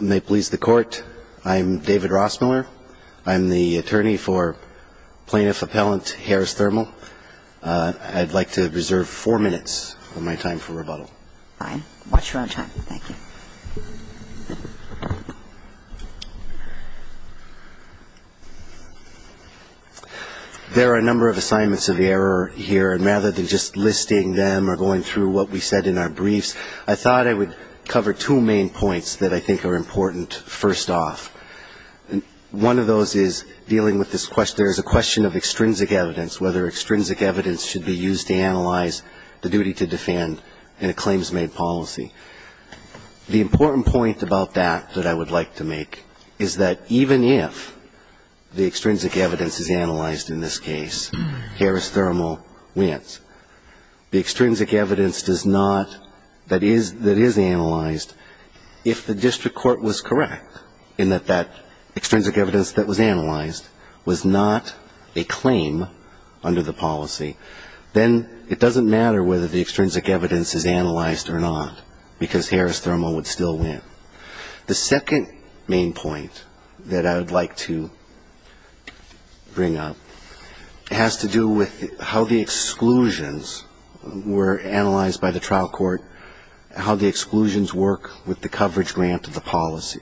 May it please the Court, I'm David Rossmiller. I'm the attorney for Plaintiff Appellant Harris Thermal. I'd like to reserve four minutes of my time for rebuttal. Fine. Watch your own time. Thank you. There are a number of assignments of error here, and rather than just listing them or going through what we said in our briefs, I thought I would cover two main points that I think are important first off. One of those is dealing with this question, there is a question of extrinsic evidence, whether extrinsic evidence should be used to analyze the duty to defend in a claims-made policy. The important point about that that I would like to make is that even if the extrinsic evidence is analyzed in this case, Harris Thermal wins. The extrinsic evidence that is analyzed, if the district court was correct in that that extrinsic evidence that was analyzed was not a claim under the policy, then it doesn't matter whether the extrinsic evidence is analyzed or not, because Harris Thermal would still win. The second main point that I would like to bring up has to do with how the exclusions were analyzed by the trial court, how the exclusions work with the coverage grant of the policy.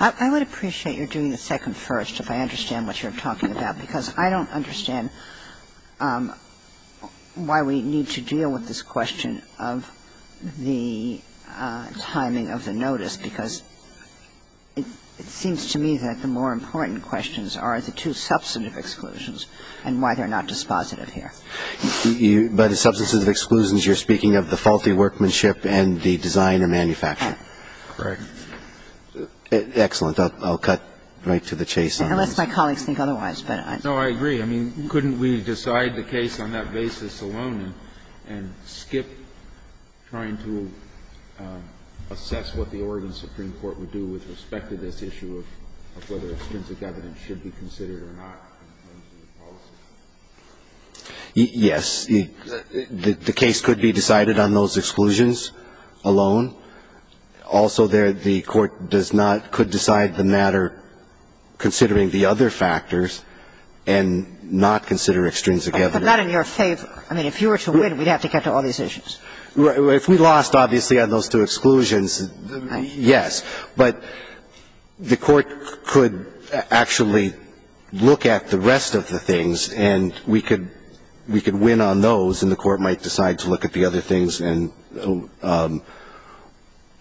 I would appreciate your doing the second first if I understand what you're talking about, because I don't understand why we need to deal with this question of the timing of the notice, because it seems to me that the more important questions are the two substantive exclusions and why they're not dispositive here. By the substantive exclusions, you're speaking of the faulty workmanship and the designer-manufacturer. Correct. Excellent. I'll cut right to the chase on this. Unless my colleagues think otherwise. No, I agree. I mean, couldn't we decide the case on that basis alone and skip trying to assess what the Oregon Supreme Court would do with respect to this issue of whether extrinsic evidence should be considered or not in terms of the policy? Yes. The case could be decided on those exclusions alone. Also there, the Court does not, could decide the matter considering the other factors and not consider extrinsic evidence. But not in your favor. I mean, if you were to win, we'd have to get to all these issues. If we lost, obviously, on those two exclusions, yes. But the Court could actually look at the rest of the things, and we could win on those, and the Court might decide to look at the other things, and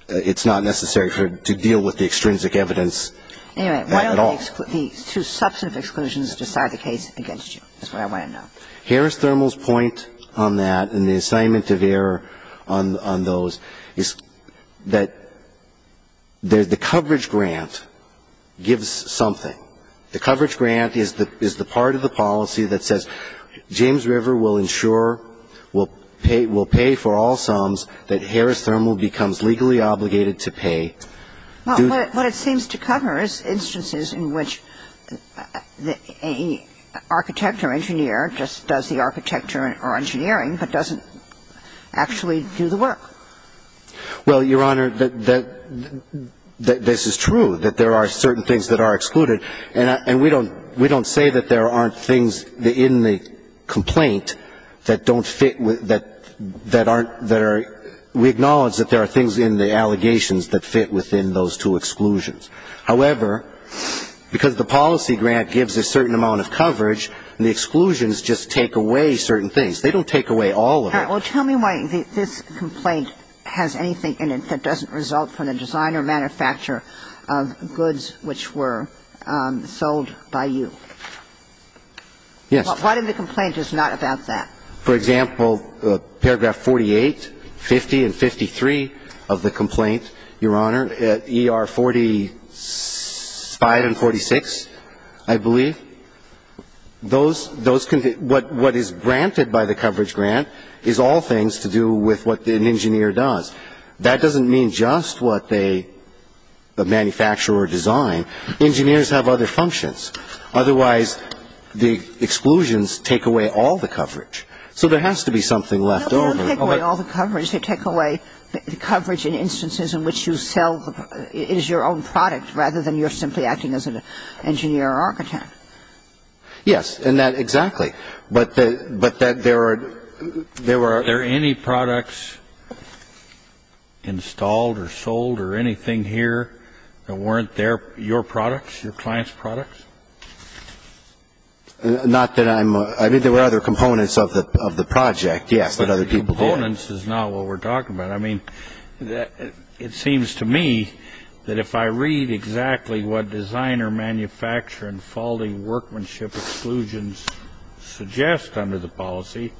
it's not necessary to deal with the extrinsic evidence at all. Anyway, why don't the two substantive exclusions decide the case against you? That's what I want to know. Harris-Thermol's point on that and the assignment of error on those is that the coverage grant gives something. The coverage grant is the part of the policy that says James River will ensure, will pay for all sums that Harris-Thermol becomes legally obligated to pay. Well, what it seems to cover is instances in which a architect or engineer just does the architecture or engineering but doesn't actually do the work. Well, Your Honor, this is true, that there are certain things that are excluded. And we don't say that there aren't things in the complaint that don't fit, that aren't there. We acknowledge that there are things in the allegations that fit within those two exclusions. However, because the policy grant gives a certain amount of coverage, the exclusions just take away certain things. They don't take away all of it. Well, tell me why this complaint has anything in it that doesn't result from the designer or manufacturer of goods which were sold by you. Yes. Why did the complaint is not about that? For example, paragraph 48, 50 and 53 of the complaint, Your Honor, ER 45 and 46, I believe, those can be what is granted by the coverage grant is all things to do with what an engineer does. That doesn't mean just what they manufacture or design. Engineers have other functions. Otherwise, the exclusions take away all the coverage. So there has to be something left over. No, they don't take away all the coverage. They take away the coverage in instances in which you sell is your own product rather than you're simply acting as an engineer or architect. Yes. And that exactly. But there are any products? Installed or sold or anything here that weren't your products, your client's products? Not that I'm, I mean, there were other components of the project, yes, but other people didn't. Components is not what we're talking about. I mean, it seems to me that if I read exactly what designer, manufacturer and folding workmanship exclusions suggest under the policy,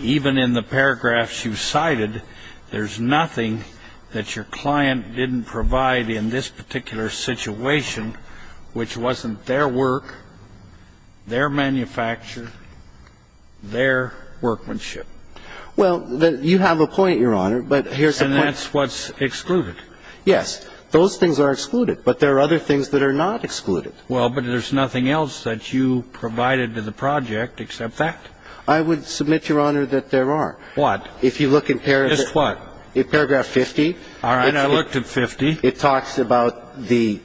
even in the paragraphs you cited, there's nothing that your client didn't provide in this particular situation which wasn't their work, their manufacture, their workmanship. Well, you have a point, Your Honor, but here's the point. And that's what's excluded. Yes. Those things are excluded. But there are other things that are not excluded. Well, but there's nothing else that you provided to the project except that. I would submit, Your Honor, that there are. What? Just what? If you look in paragraph 50. All right. I looked at 50. It talks about the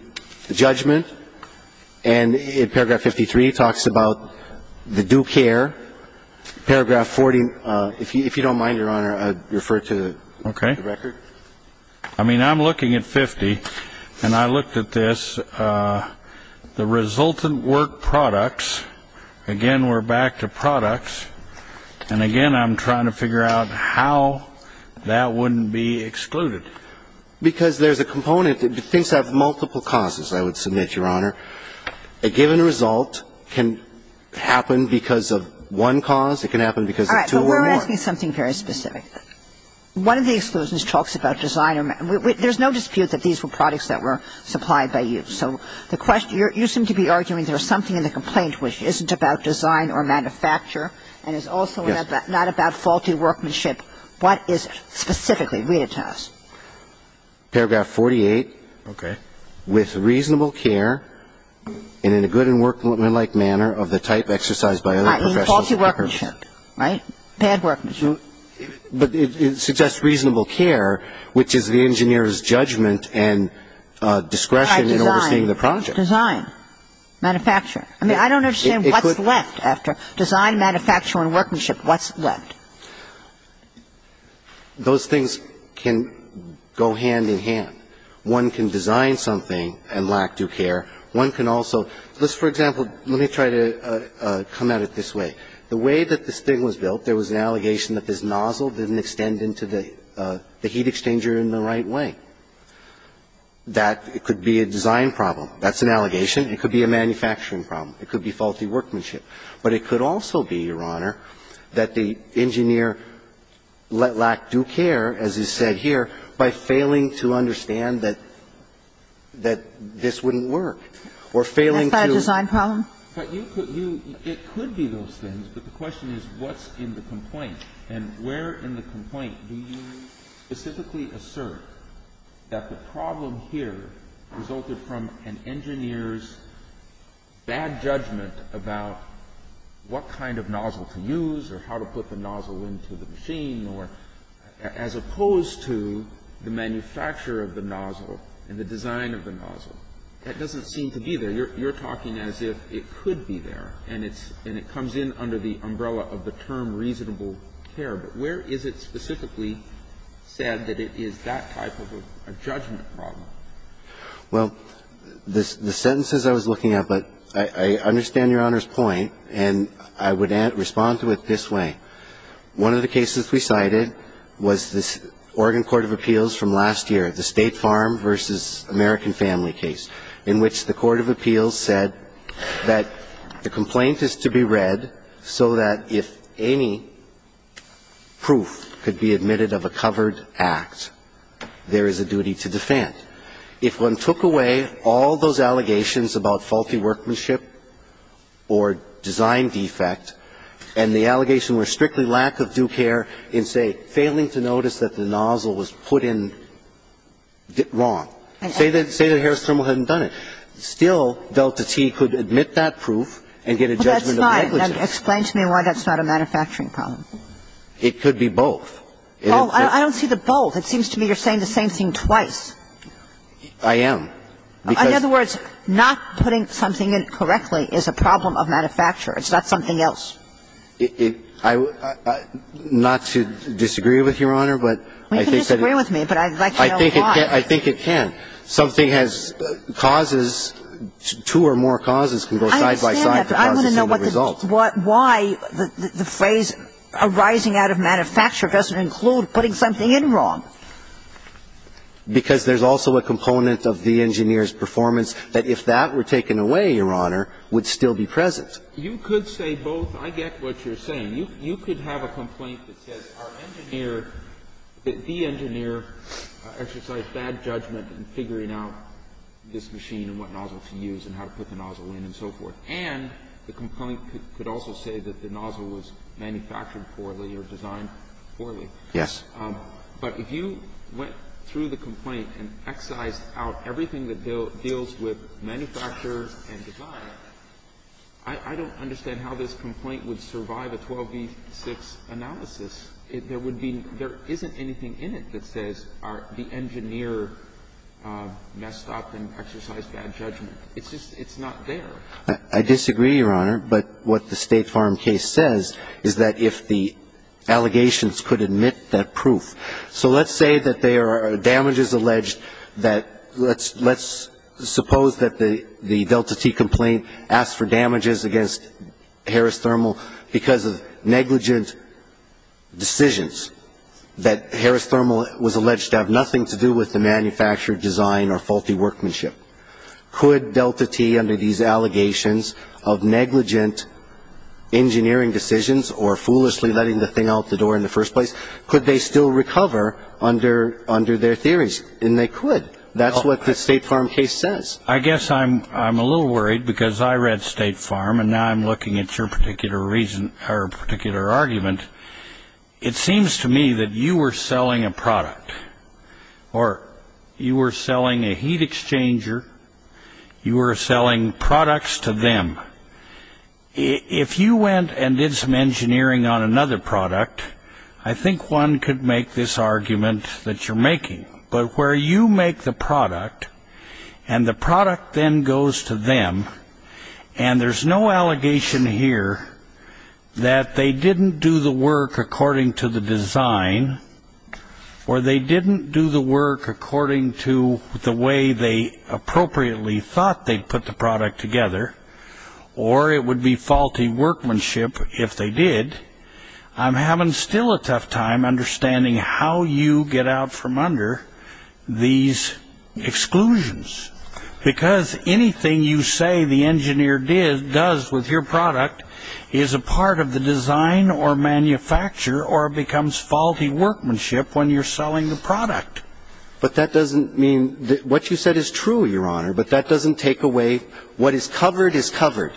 judgment. And in paragraph 53, it talks about the due care. Paragraph 40, if you don't mind, Your Honor, I'd refer to the record. Okay. I mean, I'm looking at 50, and I looked at this. I'm looking at the resultant work products. Again, we're back to products. And, again, I'm trying to figure out how that wouldn't be excluded. Because there's a component. Things have multiple causes, I would submit, Your Honor. A given result can happen because of one cause. It can happen because of two or more. All right. But we're asking something very specific. One of the exclusions talks about design. There's no dispute that these were products that were supplied by you. So you seem to be arguing there's something in the complaint which isn't about design or manufacture and is also not about faulty workmanship. What is it specifically? Read it to us. Paragraph 48. Okay. With reasonable care and in a good and workmanlike manner of the type exercised by other professionals. I mean, faulty workmanship, right? Bad workmanship. But it suggests reasonable care, which is the engineer's judgment and discretion in overseeing the project. Try design. Design. Manufacture. I mean, I don't understand what's left after design, manufacture, and workmanship. What's left? Those things can go hand in hand. One can design something and lack due care. One can also ‑‑ let's, for example, let me try to come at it this way. The way that this thing was built, there was an allegation that this nozzle didn't extend into the heat exchanger in the right way. That it could be a design problem. That's an allegation. It could be a manufacturing problem. It could be faulty workmanship. But it could also be, Your Honor, that the engineer lacked due care, as is said here, by failing to understand that this wouldn't work. Or failing to ‑‑ Is that a design problem? But you could ‑‑ it could be those things, but the question is what's in the complaint? And where in the complaint do you specifically assert that the problem here resulted from an engineer's bad judgment about what kind of nozzle to use or how to put the nozzle into the machine, or as opposed to the manufacturer of the nozzle and the design of the nozzle? That doesn't seem to be there. You're talking as if it could be there, and it comes in under the umbrella of the term reasonable care. But where is it specifically said that it is that type of a judgment problem? Well, the sentences I was looking at, but I understand Your Honor's point, and I would respond to it this way. One of the cases we cited was the Oregon Court of Appeals from last year, the State Farm v. American Family case, in which the Court of Appeals said that the complaint is to be read so that if any proof could be admitted of a covered act, there is a duty to defend. If one took away all those allegations about faulty workmanship or design defect, and the allegations were strictly lack of due care in, say, failing to notice that the nozzle was put in wrong. Say that Harris Trimble hadn't done it. Still, Delta T could admit that proof and get a judgment of negligence. Well, that's fine. Explain to me why that's not a manufacturing problem. It could be both. Oh, I don't see the both. It seems to me you're saying the same thing twice. I am. In other words, not putting something in correctly is a problem of manufacture. It's not something else. Not to disagree with, Your Honor, but I think that it can. Well, you can disagree with me, but I'd like to know why. I think it can. Something has causes. Two or more causes can go side by side. I understand that, but I want to know why the phrase arising out of manufacture doesn't include putting something in wrong. Because there's also a component of the engineer's performance that if that were taken away, Your Honor, would still be present. You could say both. I get what you're saying. You could have a complaint that says our engineer, the engineer, exercised bad judgment in figuring out this machine and what nozzle to use and how to put the nozzle in and so forth. And the complaint could also say that the nozzle was manufactured poorly or designed poorly. Yes. But if you went through the complaint and excised out everything that deals with manufacture and design, I don't understand how this complaint would survive a 12v6 analysis. There would be no – there isn't anything in it that says the engineer messed up and exercised bad judgment. It's just – it's not there. I disagree, Your Honor. But what the State Farm case says is that if the allegations could admit that proof – so let's say that there are damages alleged that – let's suppose that the Delta T complaint asks for damages against Harris Thermal because of negligent decisions that Harris Thermal was alleged to have nothing to do with the manufactured design or faulty workmanship. Could Delta T, under these allegations of negligent engineering decisions or foolishly letting the thing out the door in the first place, could they still recover under their theories? And they could. That's what the State Farm case says. I guess I'm a little worried because I read State Farm and now I'm looking at your particular reason or particular argument. It seems to me that you were selling a product. Or you were selling a heat exchanger. You were selling products to them. If you went and did some engineering on another product, I think one could make this argument that you're making. But where you make the product and the product then goes to them and there's no allegation here that they didn't do the work according to the design or they didn't do the work according to the way they appropriately thought they put the product together, or it would be faulty workmanship if they did, I'm having still a tough time understanding how you get out from under these exclusions. Because anything you say the engineer does with your product is a part of the design or manufacture or becomes faulty workmanship when you're selling the product. But that doesn't mean that what you said is true, Your Honor, but that doesn't take away what is covered is covered.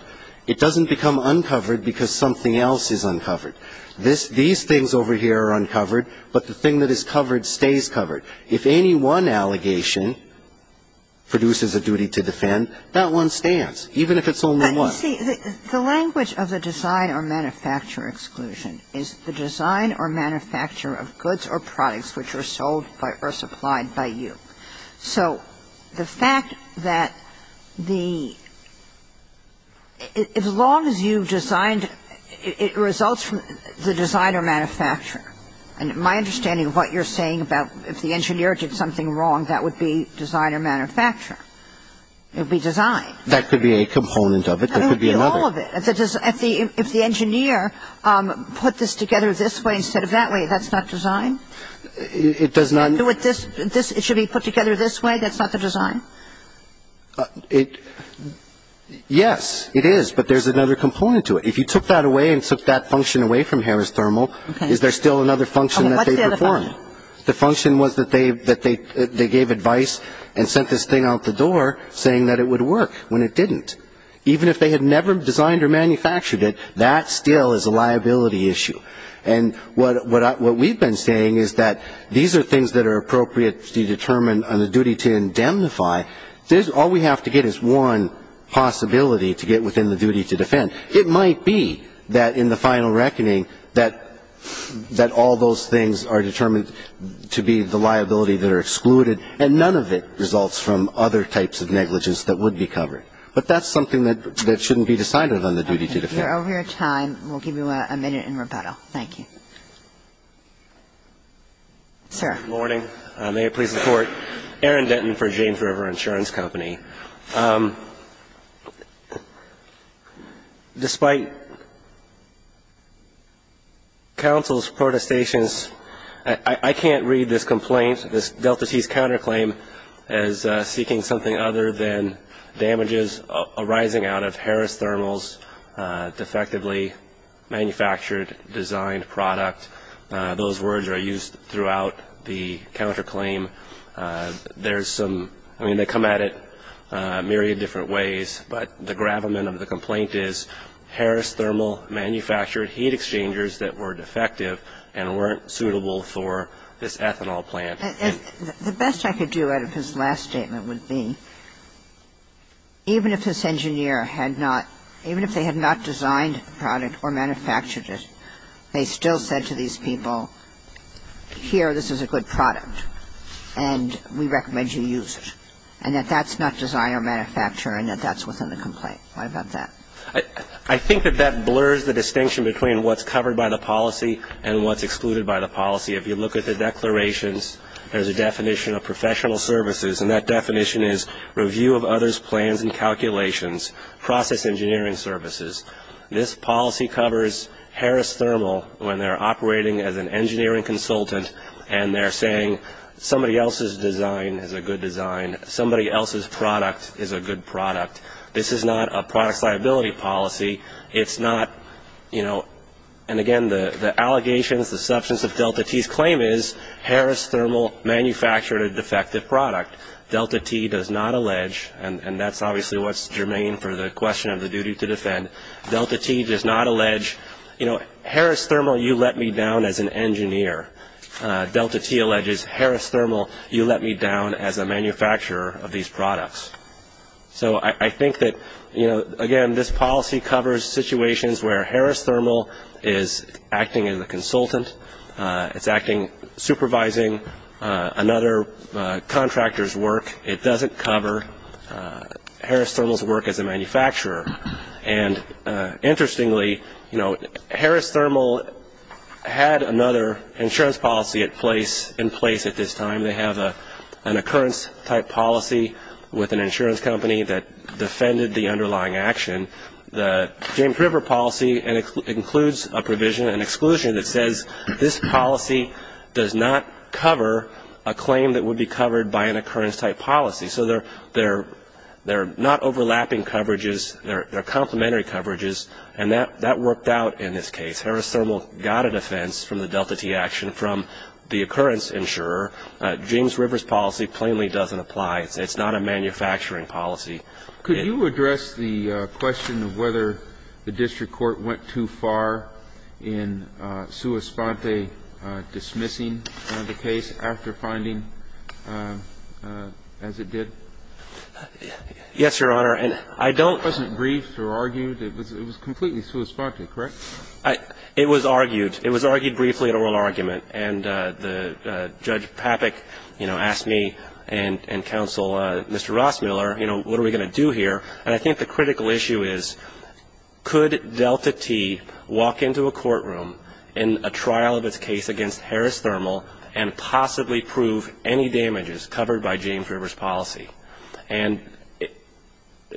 It doesn't become uncovered because something else is uncovered. These things over here are uncovered, but the thing that is covered stays covered. If any one allegation produces a duty to defend, that one stands, even if it's only one. But you see, the language of the design or manufacture exclusion is the design or manufacture of goods or products which are sold or supplied by you. So the fact that the as long as you've designed, it results from the design or manufacture. And my understanding of what you're saying about if the engineer did something wrong, that would be design or manufacture. It would be design. That could be a component of it. That could be another. It would be all of it. If the engineer put this together this way instead of that way, that's not design? It does not. It should be put together this way? That's not the design? Yes, it is, but there's another component to it. If you took that away and took that function away from Harris Thermal, is there still another function that they performed? What's the other function? The function was that they gave advice and sent this thing out the door saying that it would work. When it didn't. Even if they had never designed or manufactured it, that still is a liability issue. And what we've been saying is that these are things that are appropriately determined on the duty to indemnify. All we have to get is one possibility to get within the duty to defend. It might be that in the final reckoning that all those things are determined to be the liability that are excluded and none of it results from other types of negligence that would be covered. But that's something that shouldn't be decided on the duty to defend. You're over your time. We'll give you a minute in rebuttal. Thank you. Sir. Good morning. May it please the Court. Aaron Denton for James River Insurance Company. Despite counsel's protestations, I can't read this complaint, this Delta C's counterclaim, as seeking something other than damages arising out of Harris Thermals' defectively manufactured designed product. Those words are used throughout the counterclaim. There's some, I mean, they come at it a myriad of different ways. But the gravamen of the complaint is Harris Thermal manufactured heat exchangers that were defective and weren't suitable for this ethanol plant. And the best I could do out of his last statement would be, even if this engineer had not, even if they had not designed the product or manufactured it, they still said to these people, here, this is a good product. And we recommend you use it. And that that's not design or manufacture and that that's within the complaint. What about that? I think that that blurs the distinction between what's covered by the policy and what's excluded by the policy. If you look at the declarations, there's a definition of professional services, and that definition is review of others' plans and calculations, process engineering services. This policy covers Harris Thermal when they're operating as an engineering consultant and they're saying somebody else's design is a good design, somebody else's product is a good product. This is not a product's liability policy. It's not, you know, and again, the allegations, the substance of Delta T's claim is Harris Thermal manufactured a defective product. Delta T does not allege, and that's obviously what's germane for the question of the duty to defend, Delta T does not allege, you know, Harris Thermal, you let me down as an engineer. Delta T alleges, Harris Thermal, you let me down as a manufacturer of these products. So I think that, you know, again, this policy covers situations where Harris Thermal is acting as a consultant. It's acting, supervising another contractor's work. It doesn't cover Harris Thermal's work as a manufacturer. And interestingly, you know, Harris Thermal had another insurance policy in place at this time. They have an occurrence-type policy with an insurance company that defended the underlying action. The James River policy includes a provision, an exclusion that says this policy does not cover a claim that would be covered by an occurrence-type policy. So they're not overlapping coverages. They're complementary coverages. And that worked out in this case. Harris Thermal got a defense from the Delta T action from the occurrence insurer. James River's policy plainly doesn't apply. It's not a manufacturing policy. Kennedy, could you address the question of whether the district court went too far in sua sponte dismissing the case after finding, as it did? Yes, Your Honor. And I don't. It wasn't briefed or argued. It was completely sua sponte, correct? It was argued. It was argued briefly at oral argument. And the Judge Papik, you know, asked me and counsel Mr. Rossmiller, you know, what are we going to do here? And I think the critical issue is could Delta T walk into a courtroom in a trial of its case against Harris Thermal and possibly prove any damages covered by James River's policy? And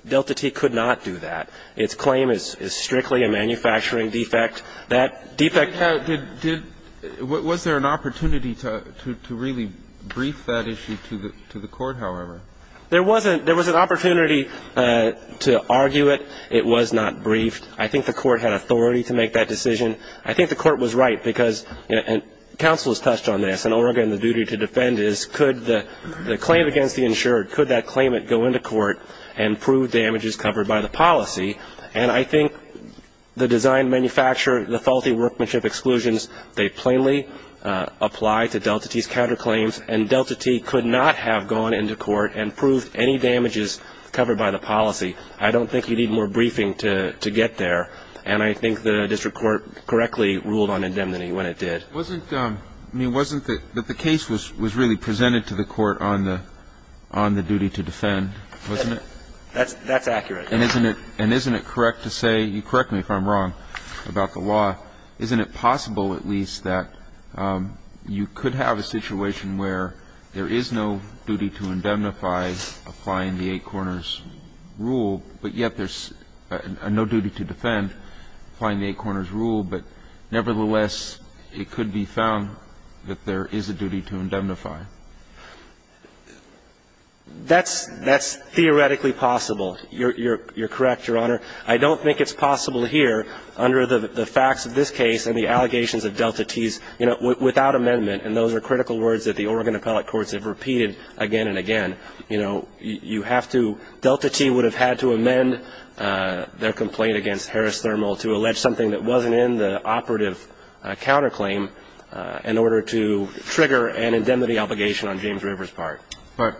Delta T could not do that. Its claim is strictly a manufacturing defect. Was there an opportunity to really brief that issue to the court, however? There was an opportunity to argue it. It was not briefed. I think the court had authority to make that decision. I think the court was right because counsel has touched on this, and Oregon the duty to defend is could the claim against the insured, could that claimant go into court and prove damages covered by the policy? And I think the design manufacturer, the faulty workmanship exclusions, they plainly apply to Delta T's counterclaims, and Delta T could not have gone into court and proved any damages covered by the policy. I don't think you need more briefing to get there. And I think the district court correctly ruled on indemnity when it did. It wasn't that the case was really presented to the court on the duty to defend, wasn't it? That's accurate. And isn't it correct to say, you correct me if I'm wrong about the law, isn't it possible at least that you could have a situation where there is no duty to indemnify applying the Eight Corners rule, but yet there's no duty to defend applying the Eight Corners rule, but nevertheless, it could be found that there is a duty to indemnify? That's theoretically possible. You're correct, Your Honor. I don't think it's possible here under the facts of this case and the allegations of Delta T's, you know, without amendment, and those are critical words that the Oregon appellate courts have repeated again and again. You know, you have to – Delta T would have had to amend their complaint against Harris Thermal to allege something that wasn't in the operative counterclaim in order to trigger an indemnity obligation on James River's part. But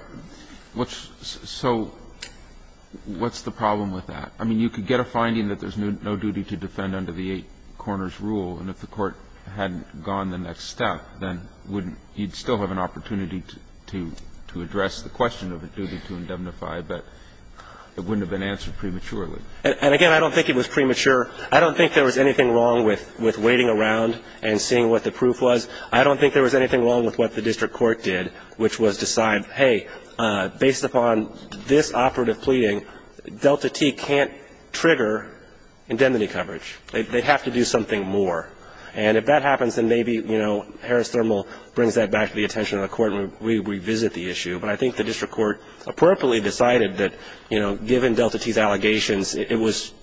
what's – so what's the problem with that? I mean, you could get a finding that there's no duty to defend under the Eight Corners rule, and if the Court hadn't gone the next step, then wouldn't – you'd still have an opportunity to address the question of a duty to indemnify, but it wouldn't have been answered prematurely. And again, I don't think it was premature. I don't think there was anything wrong with waiting around and seeing what the proof was. I don't think there was anything wrong with what the district court did, which was decide, hey, based upon this operative pleading, Delta T can't trigger indemnity coverage. They'd have to do something more. And if that happens, then maybe, you know, Harris Thermal brings that back to the attention of the Court and we revisit the issue, but I think the district court appropriately decided that, you know, given Delta T's allegations, it was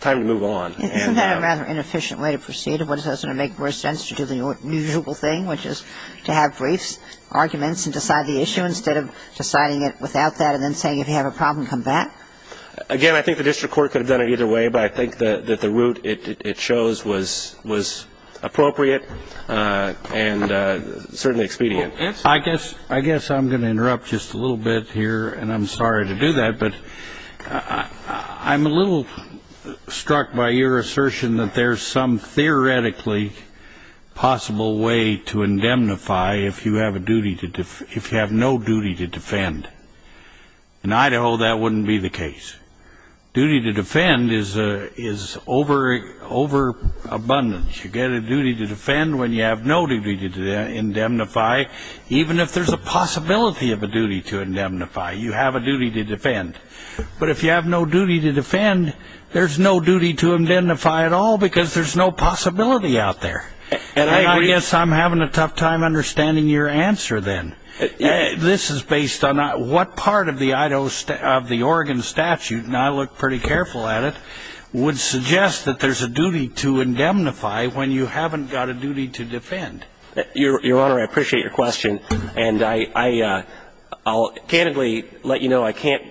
time to move on. And the other way to proceed, it doesn't make more sense to do the usual thing which is to have brief arguments and decide the issue instead of deciding it without that and then saying if you have a problem, come back. Again, I think the district court could have done it either way, but I think that the route it chose was appropriate and certainly expedient. I guess I'm going to interrupt just a little bit here, and I'm sorry to do that, but I'm a little struck by your assertion that there's some theoretically possible way to indemnify if you have no duty to defend. In Idaho, that wouldn't be the case. Duty to defend is overabundance. You get a duty to defend when you have no duty to indemnify, even if there's a possibility of a duty to indemnify. You have a duty to defend. But if you have no duty to defend, there's no duty to indemnify at all because there's no possibility out there. And I guess I'm having a tough time understanding your answer then. This is based on what part of the Oregon statute, and I look pretty careful at it, would suggest that there's a duty to indemnify when you haven't got a duty to defend. Your Honor, I appreciate your question, and I'll candidly let you know I can't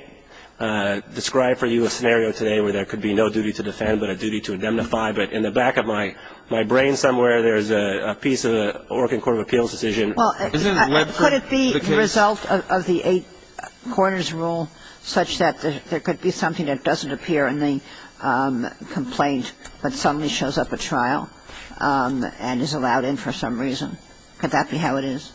describe for you a scenario today where there could be no duty to defend but a duty to I don't know if there's a case where there's a piece of the Oregon court of appeals decision. Could it be the result of the eight corners rule such that there could be something that doesn't appear in the complaint but suddenly shows up at trial and is allowed in for some reason? Could that be how it is?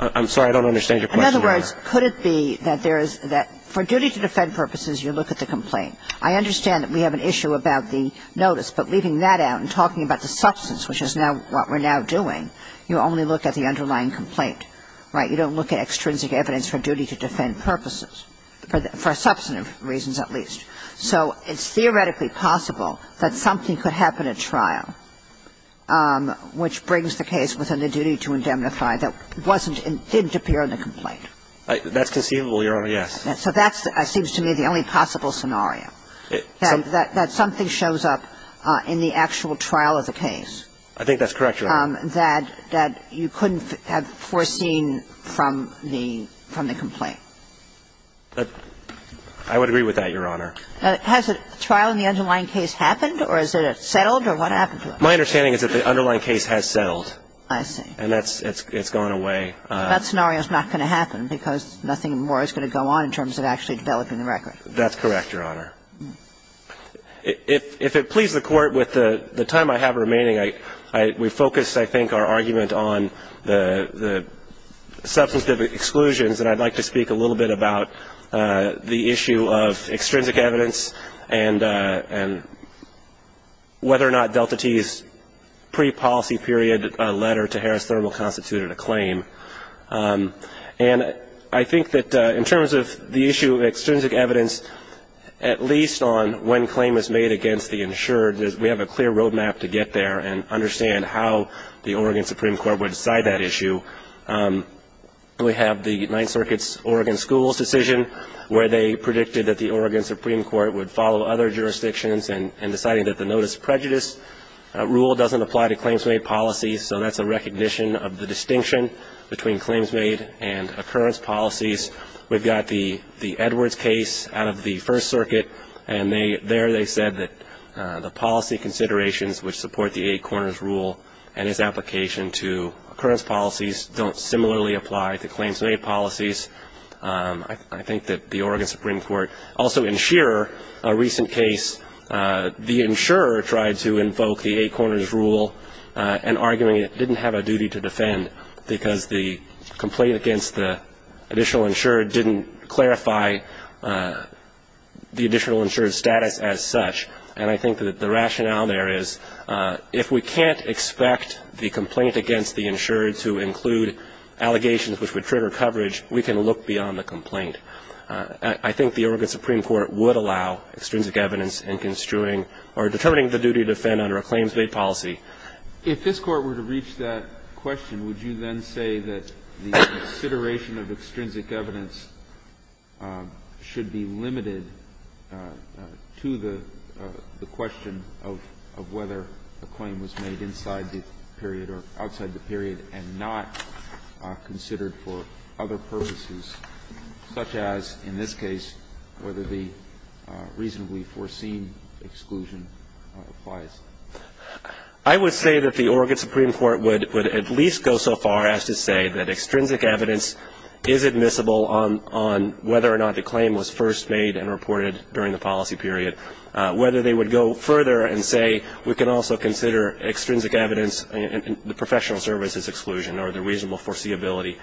I'm sorry. I don't understand your question, Your Honor. In other words, could it be that there's that for duty to defend purposes, you look at the complaint. I understand that we have an issue about the notice, but leaving that out and talking about the substance, which is now what we're now doing, you only look at the underlying complaint, right? You don't look at extrinsic evidence for duty to defend purposes, for substantive reasons at least. So it's theoretically possible that something could happen at trial, which brings the case within the duty to indemnify that wasn't and didn't appear in the complaint. That's conceivable, Your Honor, yes. So that seems to me the only possible scenario, that something shows up in the actual trial of the case. I think that's correct, Your Honor. That you couldn't have foreseen from the complaint. I would agree with that, Your Honor. Has a trial in the underlying case happened or is it settled or what happened to it? My understanding is that the underlying case has settled. I see. And it's gone away. That scenario is not going to happen because nothing more is going to go on in terms of actually developing the record. That's correct, Your Honor. If it pleases the Court, with the time I have remaining, we focus, I think, our argument on the substantive exclusions, and I'd like to speak a little bit about the issue of extrinsic evidence and whether or not Delta T's pre-policy period letter to Harris And I think that in terms of the issue of extrinsic evidence, at least on when claim is made against the insured, we have a clear road map to get there and understand how the Oregon Supreme Court would decide that issue. We have the Ninth Circuit's Oregon Schools decision where they predicted that the Oregon Supreme Court would follow other jurisdictions in deciding that the notice of prejudice rule doesn't apply to claims made policies, so that's a recognition of the distinction between claims made and occurrence policies. We've got the Edwards case out of the First Circuit, and there they said that the policy considerations which support the Eight Corners Rule and its application to occurrence policies don't similarly apply to claims made policies. I think that the Oregon Supreme Court also, in Shearer, a recent case, the insurer tried to invoke the Eight Corners Rule and arguing it didn't have a duty to defend because the complaint against the additional insured didn't clarify the additional insured's status as such. And I think that the rationale there is if we can't expect the complaint against the insured to include allegations which would trigger coverage, we can look beyond the complaint. I think the Oregon Supreme Court would allow extrinsic evidence in construing or determining the duty to defend under a claims made policy. If this Court were to reach that question, would you then say that the consideration of extrinsic evidence should be limited to the question of whether a claim was made inside the period or outside the period and not considered for other purposes, such as in this case whether the reasonably foreseen exclusion applies? I would say that the Oregon Supreme Court would at least go so far as to say that extrinsic evidence is admissible on whether or not the claim was first made and reported during the policy period. Whether they would go further and say we can also consider extrinsic evidence and the professional services exclusion or the reasonable foreseeability,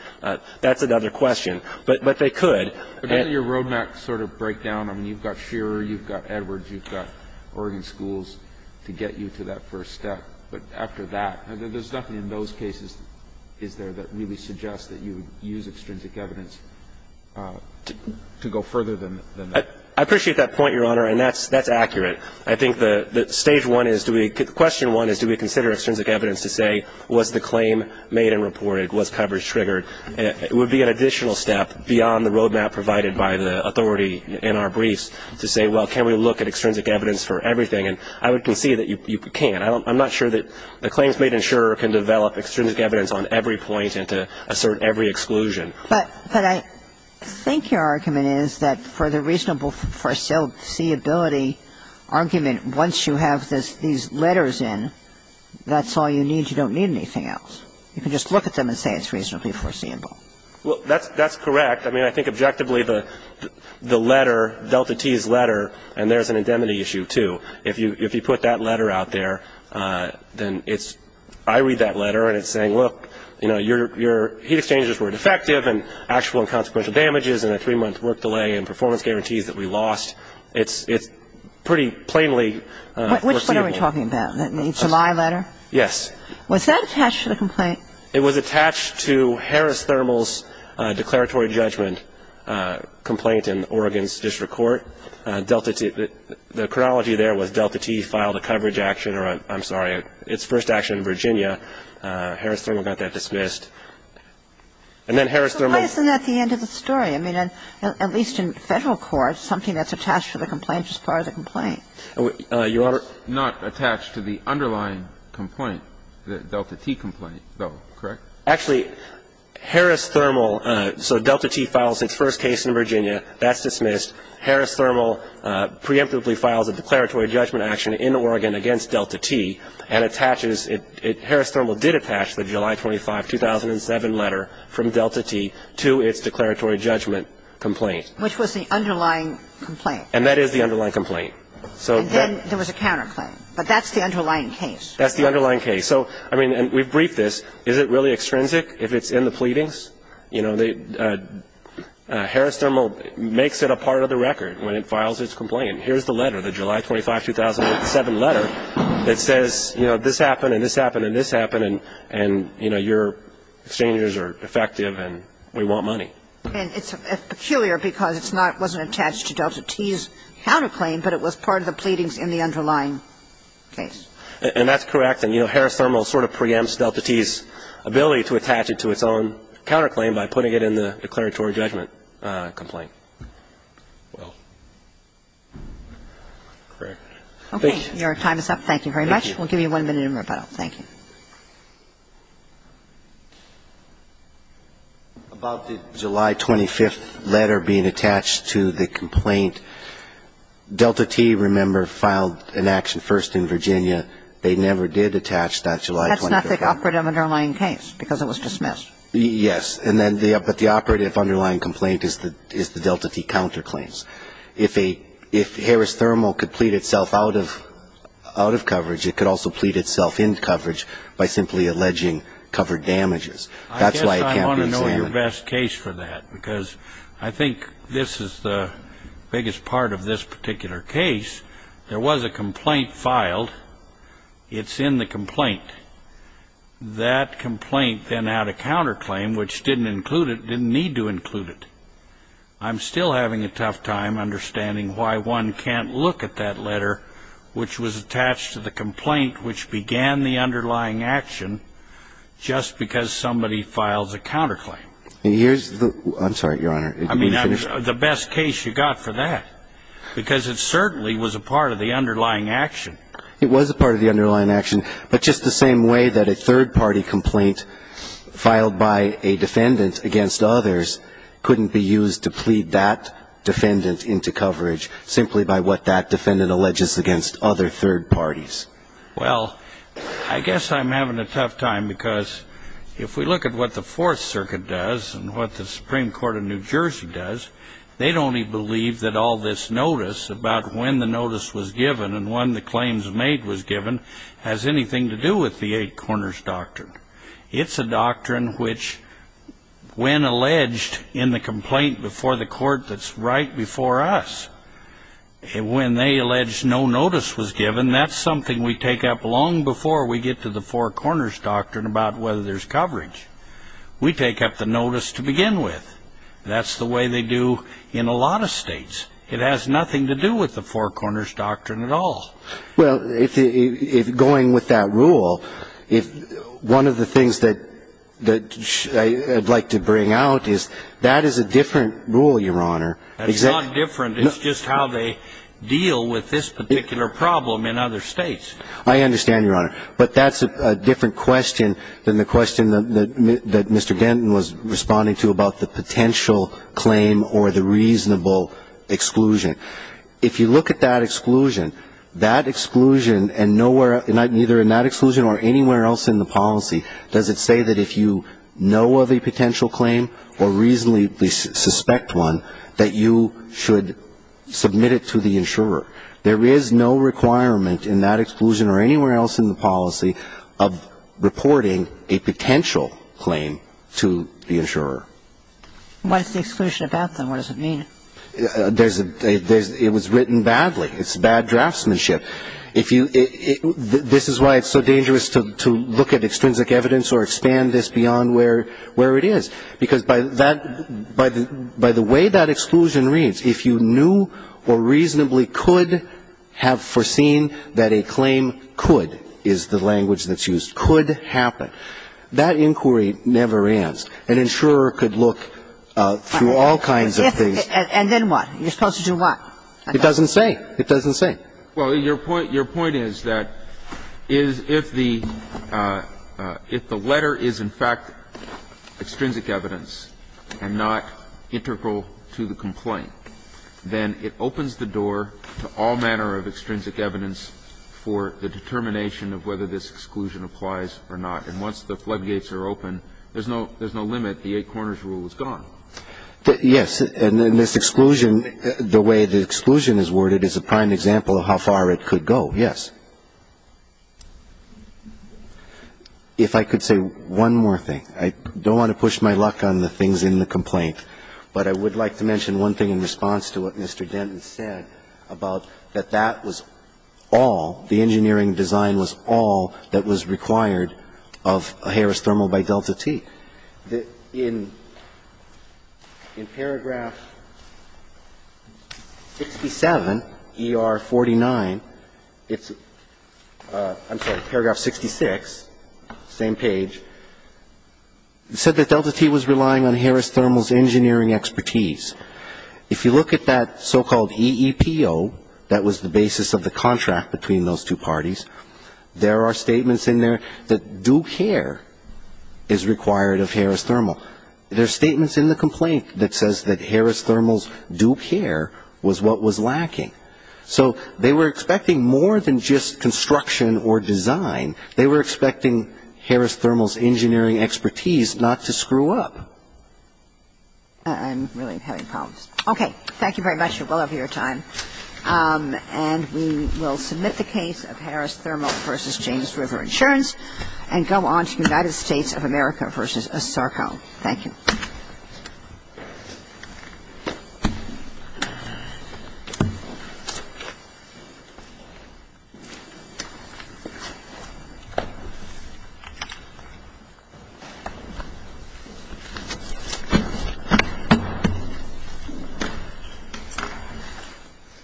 that's another question. But they could. And then your road map sort of break down. I mean, you've got Shearer, you've got Edwards, you've got Oregon schools to get you to that first step. But after that, there's nothing in those cases, is there, that really suggests that you use extrinsic evidence to go further than that? I appreciate that point, Your Honor, and that's accurate. I think the stage one is do we question one is do we consider extrinsic evidence to say was the claim made and reported? Was coverage triggered? It would be an additional step beyond the road map provided by the authority in our briefs to say, well, can we look at extrinsic evidence for everything? And I would concede that you can't. I'm not sure that the claims made in Shearer can develop extrinsic evidence on every point and to assert every exclusion. But I think your argument is that for the reasonable foreseeability argument, once you have these letters in, that's all you need. You don't need anything else. You can just look at them and say it's reasonably foreseeable. Well, that's correct. I mean, I think objectively the letter, Delta T's letter, and there's an indemnity issue, too. If you put that letter out there, then it's I read that letter and it's saying, look, you know, your heat exchangers were defective and actual and consequential damages and a three-month work delay and performance guarantees that we lost. It's pretty plainly foreseeable. What are we talking about? The July letter? Yes. Was that attached to the complaint? It was attached to Harris Thermal's declaratory judgment complaint in Oregon's district court. Delta T, the chronology there was Delta T filed a coverage action, or I'm sorry, its first action in Virginia. Harris Thermal got that dismissed. And then Harris Thermal So why isn't that the end of the story? I mean, at least in Federal court, something that's attached to the complaint is part of the complaint. It's not attached to the underlying complaint, the Delta T complaint, though, correct? Actually, Harris Thermal, so Delta T filed its first case in Virginia. That's dismissed. Harris Thermal preemptively files a declaratory judgment action in Oregon against Delta T and attaches it. Harris Thermal did attach the July 25, 2007 letter from Delta T to its declaratory judgment complaint. Which was the underlying complaint. And that is the underlying complaint. And then there was a counterclaim. But that's the underlying case. That's the underlying case. So, I mean, we've briefed this. Is it really extrinsic if it's in the pleadings? You know, Harris Thermal makes it a part of the record when it files its complaint. And here's the letter, the July 25, 2007 letter that says, you know, this happened and this happened and this happened and, you know, your exchanges are effective and we want money. And it's peculiar because it's not attached to Delta T's counterclaim, but it was part of the pleadings in the underlying case. And that's correct. And, you know, Harris Thermal sort of preempts Delta T's ability to attach it to its own counterclaim by putting it in the declaratory judgment complaint. Well, correct. Thank you. Okay. Your time is up. Thank you very much. Thank you. We'll give you one minute in rebuttal. Thank you. About the July 25th letter being attached to the complaint, Delta T, remember, filed an action first in Virginia. They never did attach that July 25th. That's not the operative underlying case because it was dismissed. Yes. But the operative underlying complaint is the Delta T counterclaims. If Harris Thermal could plead itself out of coverage, it could also plead itself in coverage by simply alleging covered damages. That's why it can't be examined. I guess I want to know your best case for that because I think this is the biggest part of this particular case. There was a complaint filed. It's in the complaint. That complaint then had a counterclaim which didn't include it, didn't need to include it. I'm still having a tough time understanding why one can't look at that letter which was attached to the complaint which began the underlying action just because somebody files a counterclaim. Here's the ---- I'm sorry, Your Honor. I mean, the best case you got for that because it certainly was a part of the underlying action. It was a part of the underlying action, but just the same way that a third party complaint filed by a defendant against others couldn't be used to plead that defendant into coverage simply by what that defendant alleges against other third parties. Well, I guess I'm having a tough time because if we look at what the Fourth Circuit does and what the Supreme Court of New Jersey does, they'd only believe that all this notice about when the notice was given and when the claims made was given has anything to do with the Eight Corners Doctrine. It's a doctrine which when alleged in the complaint before the court that's right before us, when they allege no notice was given, that's something we take up long before we get to the Four Corners Doctrine about whether there's coverage. We take up the notice to begin with. That's the way they do in a lot of states. It has nothing to do with the Four Corners Doctrine at all. Well, if going with that rule, one of the things that I'd like to bring out is that is a different rule, Your Honor. It's not different. It's just how they deal with this particular problem in other states. I understand, Your Honor, but that's a different question than the question that Mr. Denton was responding to about the potential claim or the reasonable exclusion. If you look at that exclusion, that exclusion and nowhere, neither in that exclusion or anywhere else in the policy does it say that if you know of a potential claim or reasonably suspect one, that you should submit it to the insurer. There is no requirement in that exclusion or anywhere else in the policy of reporting a potential claim to the insurer. What is the exclusion about, then? What does it mean? It was written badly. It's bad draftsmanship. This is why it's so dangerous to look at extrinsic evidence or expand this beyond where it is. Because by the way that exclusion reads, if you knew or reasonably could have foreseen that a claim could, is the language that's used, could happen, that inquiry never ends. An insurer could look through all kinds of things. And then what? You're supposed to do what? It doesn't say. It doesn't say. Well, your point is that if the letter is, in fact, extrinsic evidence and not integral to the complaint, then it opens the door to all manner of extrinsic evidence for the determination of whether this exclusion applies or not. And once the floodgates are open, there's no limit. The eight corners rule is gone. Yes. And this exclusion, the way the exclusion is worded, is a prime example of how far it could go, yes. If I could say one more thing. I don't want to push my luck on the things in the complaint. But I would like to mention one thing in response to what Mr. Denton said about that that was all, the engineering design was all, that was required of Harris Thermal by Delta T. In paragraph 67, ER 49, it's, I'm sorry, paragraph 66, same page, it said that Delta T was relying on Harris Thermal's engineering expertise. If you look at that so-called EEPO, that was the basis of the contract between those two parties, there are statements in there that do care is required of Harris Thermal. There are statements in the complaint that says that Harris Thermal's do care was what was lacking. So they were expecting more than just construction or design. They were expecting Harris Thermal's engineering expertise not to screw up. I'm really having problems. Okay. Thank you very much. You're well over your time. And we will submit the case of Harris Thermal v. James River Insurance and go on to United States of America v. Sarko. Thank you. Thank you.